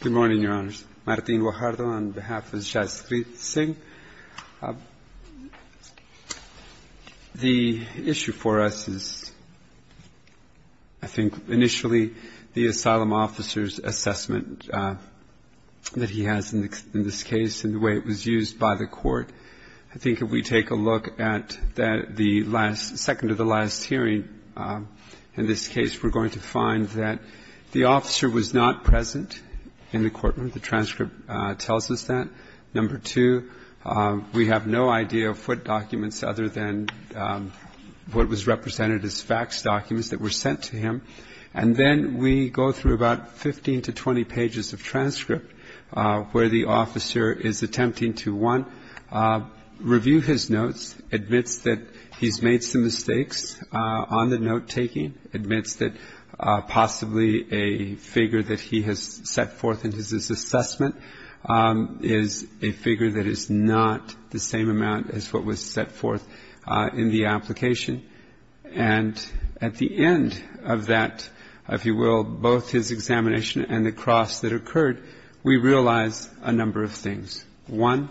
Good morning, Your Honors. Martin Guajardo on behalf of Jaisalmer Singh. The issue for us is, I think, initially, the asylum officer's assessment that he has in this case and the way it was used by the court. I think if we take a look at the second to the last hearing in this case, we're going to find that the officer was not present in the courtroom. The transcript tells us that. Number two, we have no idea of what documents other than what was represented as fax documents that were sent to him. And then we go through about 15 to 20 pages of transcript where the officer is attempting to, one, review his notes, admits that he's made some mistakes on the note-taking, admits that possibly a figure that he has set forth in his assessment is a figure that is not the same amount as what was set forth in the application. And at the end of that, if you will, both his examination and the cross that occurred, we realize a number of things. One,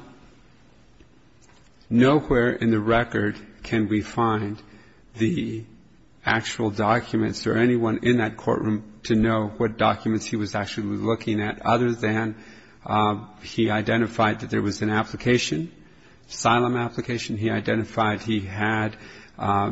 nowhere in the record can we find the actual documents or anyone in that courtroom to know what documents he was actually looking at other than he identified that there was an application, asylum application. He identified he had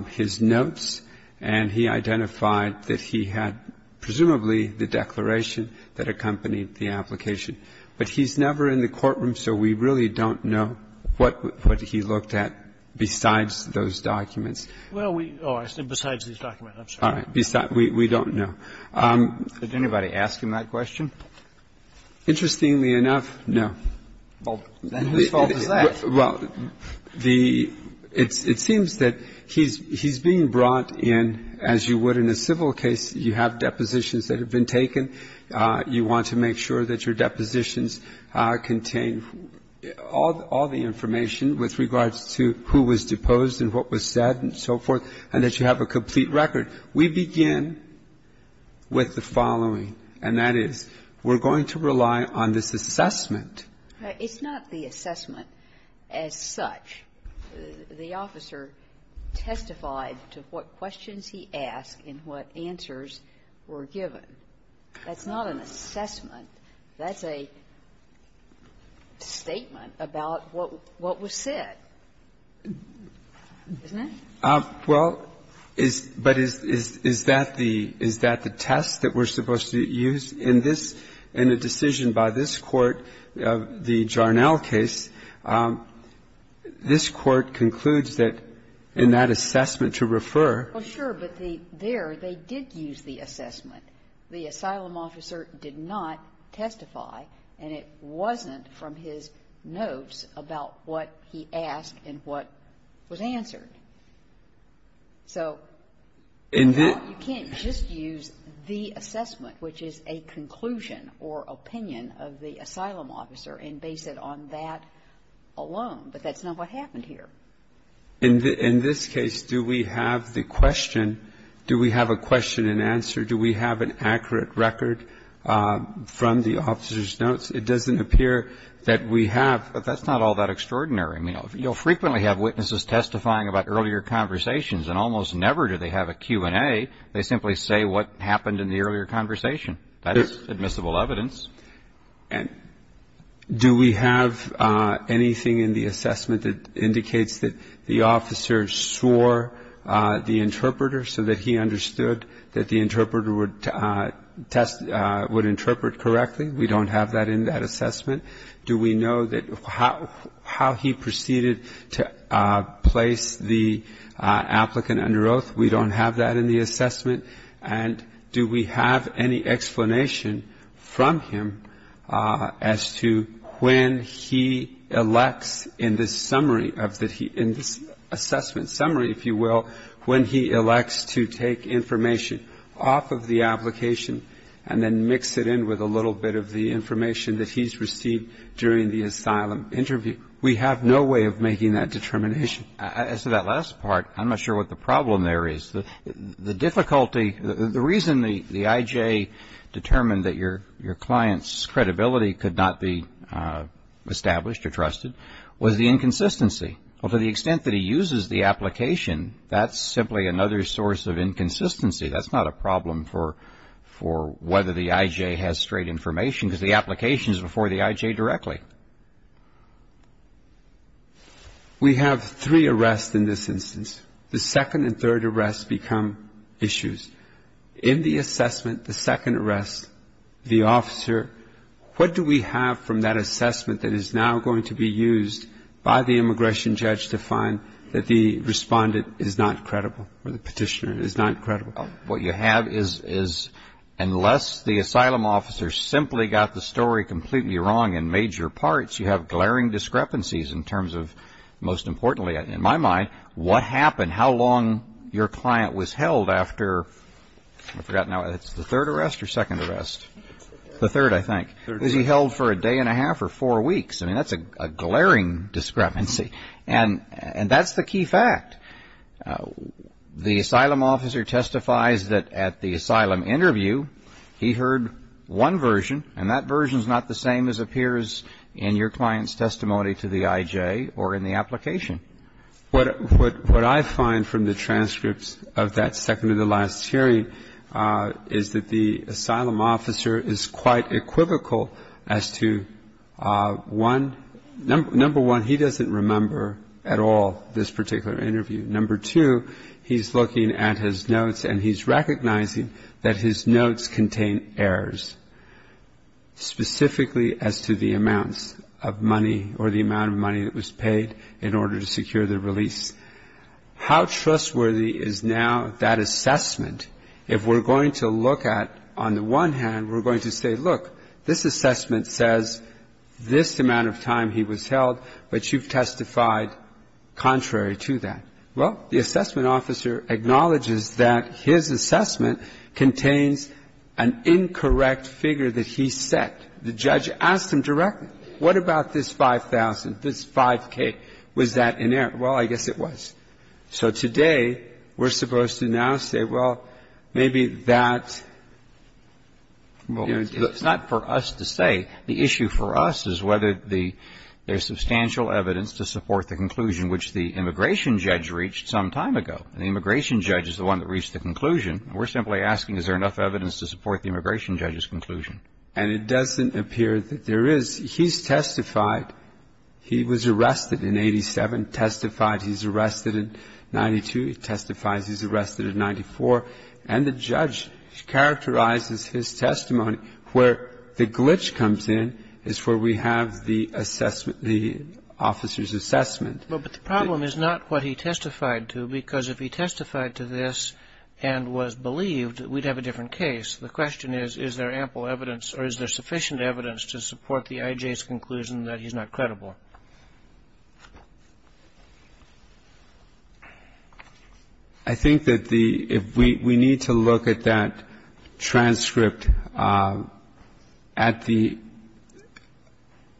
his notes, and he identified that he had presumably the declaration that accompanied the application. But he's never in the courtroom, so we really don't know what he looked at besides those documents. Well, we don't know. Did anybody ask him that question? Interestingly enough, no. Well, then whose fault is that? Well, it seems that he's being brought in, as you would in a civil case. You have depositions that have been taken. You want to make sure that your depositions contain all the information with regards to who was deposed and what was said and so forth, and that you have a complete record. We begin with the following, and that is we're going to rely on this assessment. It's not the assessment as such. The officer testified to what questions he asked and what answers were given. That's not an assessment. That's a statement about what was said, isn't it? Well, but is that the test that we're supposed to use? In this, in the decision by this Court, the Jarnell case, this Court concludes that in that assessment to refer to the assessment. However, they did use the assessment. The asylum officer did not testify, and it wasn't from his notes about what he asked and what was answered. So you can't just use the assessment, which is a conclusion or opinion of the asylum officer, and base it on that alone. But that's not what happened here. In this case, do we have the question, do we have a question and answer, do we have an accurate record from the officer's notes? It doesn't appear that we have, but that's not all that extraordinary. I mean, you'll frequently have witnesses testifying about earlier conversations, and almost never do they have a Q&A. They simply say what happened in the earlier conversation. That is admissible evidence. And do we have anything in the assessment that indicates that the officer swore the interpreter so that he understood that the interpreter would test, would interpret correctly? We don't have that in that assessment. Do we know that how he proceeded to place the applicant under oath? We don't have that in the assessment. And do we have any explanation from him as to when he elects in this summary, in this assessment summary, if you will, when he elects to take information off of the application and then mix it in with a little bit of the information that he's received during the asylum interview? We have no way of making that determination. As to that last part, I'm not sure what the problem there is. The difficulty, the reason the IJ determined that your client's credibility could not be established or trusted was the inconsistency. To the extent that he uses the application, that's simply another source of inconsistency. That's not a problem for whether the IJ has straight information because the application is before the IJ directly. We have three arrests in this instance. The second and third arrests become issues. In the assessment, the second arrest, the officer, what do we have from that assessment that is now going to be used by the immigration judge to find that the respondent is not credible or the petitioner is not credible? What you have is unless the asylum officer simply got the story completely wrong in major parts, you have glaring discrepancies in terms of, most importantly in my mind, what happened, how long your client was held after, I forgot now, it's the third arrest or second arrest? The third, I think. Was he held for a day and a half or four weeks? I mean, that's a glaring discrepancy. And that's the key fact. The asylum officer testifies that at the asylum interview, he heard one version and that version is not the same as appears in your client's testimony to the IJ or in the application. What I find from the transcripts of that second-to-the-last hearing is that the asylum officer is quite equivocal as to, one, number one, he doesn't remember at all this particular interview. Number two, he's looking at his notes and he's recognizing that his notes contain errors. Specifically as to the amounts of money or the amount of money that was paid in order to secure the release. How trustworthy is now that assessment if we're going to look at, on the one hand, we're going to say, look, this assessment says this amount of time he was held, but you've testified contrary to that. Well, the assessment officer acknowledges that his assessment contains an incorrect figure that he set. The judge asked him directly, what about this 5,000, this 5K? Was that inerrant? Well, I guess it was. So today we're supposed to now say, well, maybe that's not for us to say. The issue for us is whether there's substantial evidence to support the conclusion which the immigration judge reached some time ago. And the immigration judge is the one that reached the conclusion. We're simply asking is there enough evidence to support the immigration judge's conclusion. And it doesn't appear that there is. He's testified. He was arrested in 87, testified he's arrested in 92, testifies he's arrested in 94. And the judge characterizes his testimony where the glitch comes in is where we have the assessment, the officer's assessment. Well, but the problem is not what he testified to, because if he testified to this and was believed, we'd have a different case. The question is, is there ample evidence or is there sufficient evidence to support the IJ's conclusion that he's not credible? I think that the we need to look at that transcript at the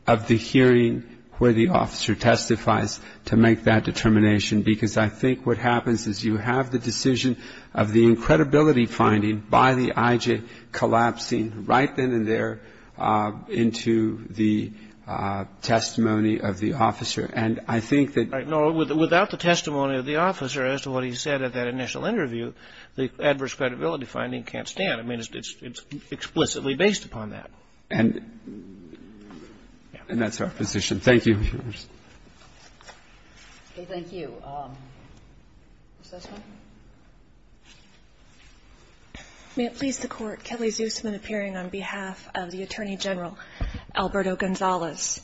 of the hearing where the officer testifies to make that determination. Because I think what happens is you have the decision of the credibility finding by the IJ collapsing right then and there into the testimony of the officer. And I think that the Right. No, without the testimony of the officer as to what he said at that initial interview, the adverse credibility finding can't stand. I mean, it's explicitly based upon that. And that's our position. Thank you. Okay. Thank you. Is this one? May it please the Court. Kelly Zusman appearing on behalf of the Attorney General, Alberto Gonzalez.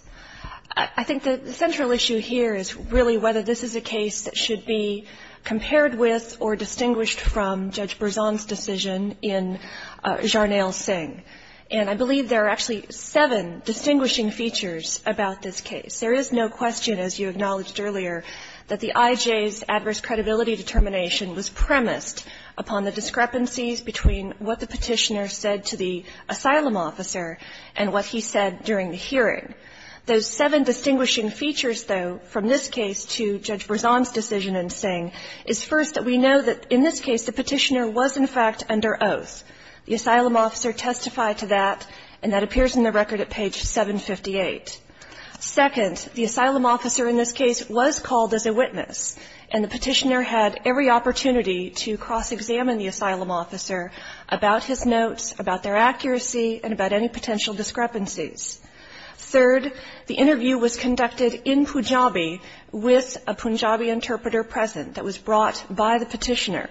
I think the central issue here is really whether this is a case that should be compared with or distinguished from Judge Berzon's decision in Jarnail Singh. And I believe there are actually seven distinguishing features about this case. There is no question, as you acknowledged earlier, that the IJ's adverse credibility determination was premised upon the discrepancies between what the Petitioner said to the asylum officer and what he said during the hearing. Those seven distinguishing features, though, from this case to Judge Berzon's decision in Singh is, first, that we know that in this case the Petitioner was, in fact, under oath. The asylum officer testified to that, and that appears in the record at page 758. Second, the asylum officer in this case was called as a witness, and the Petitioner had every opportunity to cross-examine the asylum officer about his notes, about their accuracy, and about any potential discrepancies. Third, the interview was conducted in Punjabi with a Punjabi interpreter present that was brought by the Petitioner.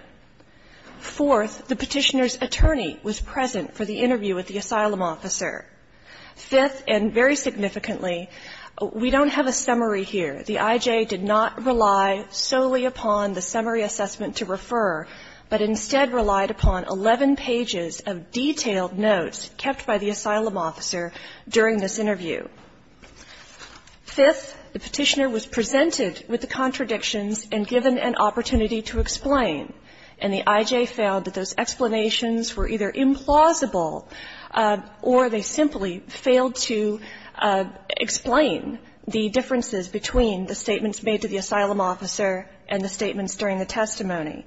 Fourth, the Petitioner's attorney was present for the interview with the asylum officer. Fifth, and very significantly, we don't have a summary here. The IJ did not rely solely upon the summary assessment to refer, but instead relied upon 11 pages of detailed notes kept by the asylum officer during this interview. Fifth, the Petitioner was presented with the contradictions and given an opportunity to explain, and the IJ found that those explanations were either implausible or they simply failed to explain the differences between the statements made to the asylum officer and the statements during the testimony.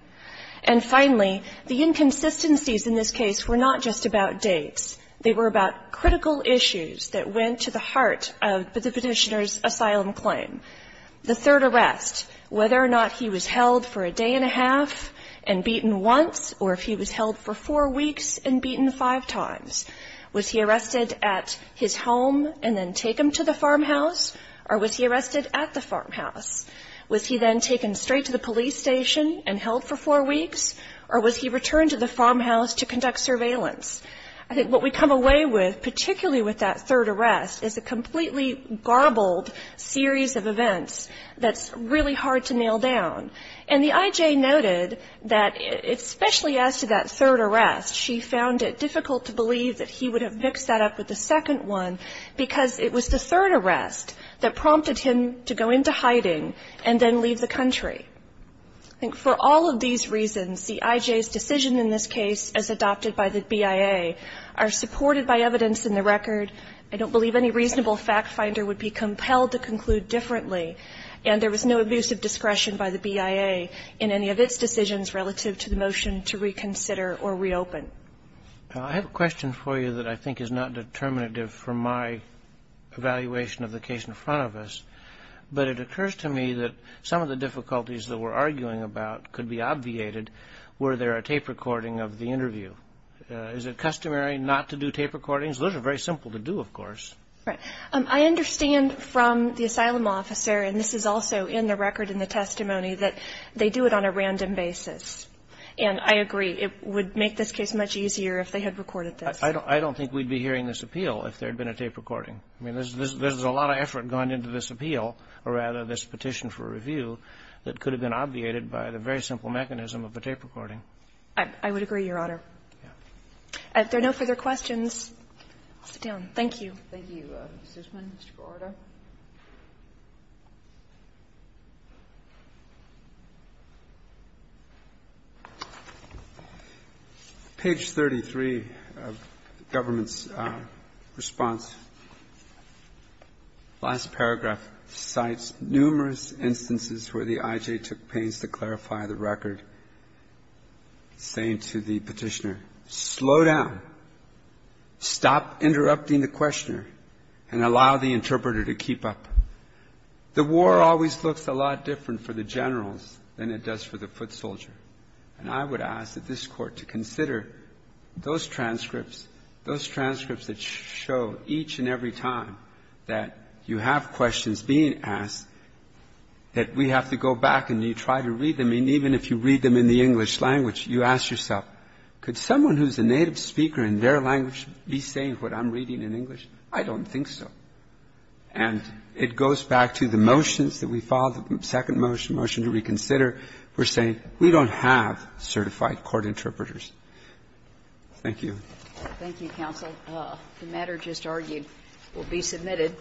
And finally, the inconsistencies in this case were not just about dates. They were about critical issues that went to the heart of the Petitioner's asylum claim. The third arrest, whether or not he was held for a day and a half and beaten once or if he was held for four weeks and beaten five times. Was he arrested at his home and then taken to the farmhouse, or was he arrested at the farmhouse? Was he then taken straight to the police station and held for four weeks, or was he returned to the farmhouse to conduct surveillance? I think what we come away with, particularly with that third arrest, is a completely garbled series of events that's really hard to nail down. And the IJ noted that, especially as to that third arrest, she found it difficult to believe that he would have mixed that up with the second one because it was the third arrest that prompted him to go into hiding and then leave the country. I think for all of these reasons, the IJ's decision in this case, as adopted by the BIA, are supported by evidence in the record. I don't believe any reasonable fact finder would be compelled to conclude differently. And there was no abuse of discretion by the BIA in any of its decisions relative to the motion to reconsider or reopen. I have a question for you that I think is not determinative from my evaluation of the case in front of us, but it occurs to me that some of the difficulties that we're arguing about could be obviated were there a tape recording of the interview. Is it customary not to do tape recordings? Those are very simple to do, of course. Right. I understand from the asylum officer, and this is also in the record in the testimony, that they do it on a random basis. And I agree. It would make this case much easier if they had recorded this. I don't think we'd be hearing this appeal if there had been a tape recording. I mean, there's a lot of effort gone into this appeal, or rather this petition for review, that could have been obviated by the very simple mechanism of a tape recording. I would agree, Your Honor. If there are no further questions, I'll sit down. Thank you. Thank you, Mr. Zuzman. Mr. Guarardo. Page 33 of the government's response, last paragraph, cites numerous instances where the I.J. took pains to clarify the record, saying to the petitioner, slow down, stop interrupting the questioner, and allow the interpreter to keep up. The war always looks a lot different for the generals than it does for the foot soldier. And I would ask that this Court to consider those transcripts, those transcripts that show each and every time that you have questions being asked, that we have to go back and you try to read them. I mean, even if you read them in the English language, you ask yourself, could someone who's a native speaker in their language be saying what I'm reading in English? I don't think so. And it goes back to the motions that we filed, the second motion, motion to reconsider. We're saying we don't have certified court interpreters. Thank you. Thank you, counsel. The matter just argued will be submitted.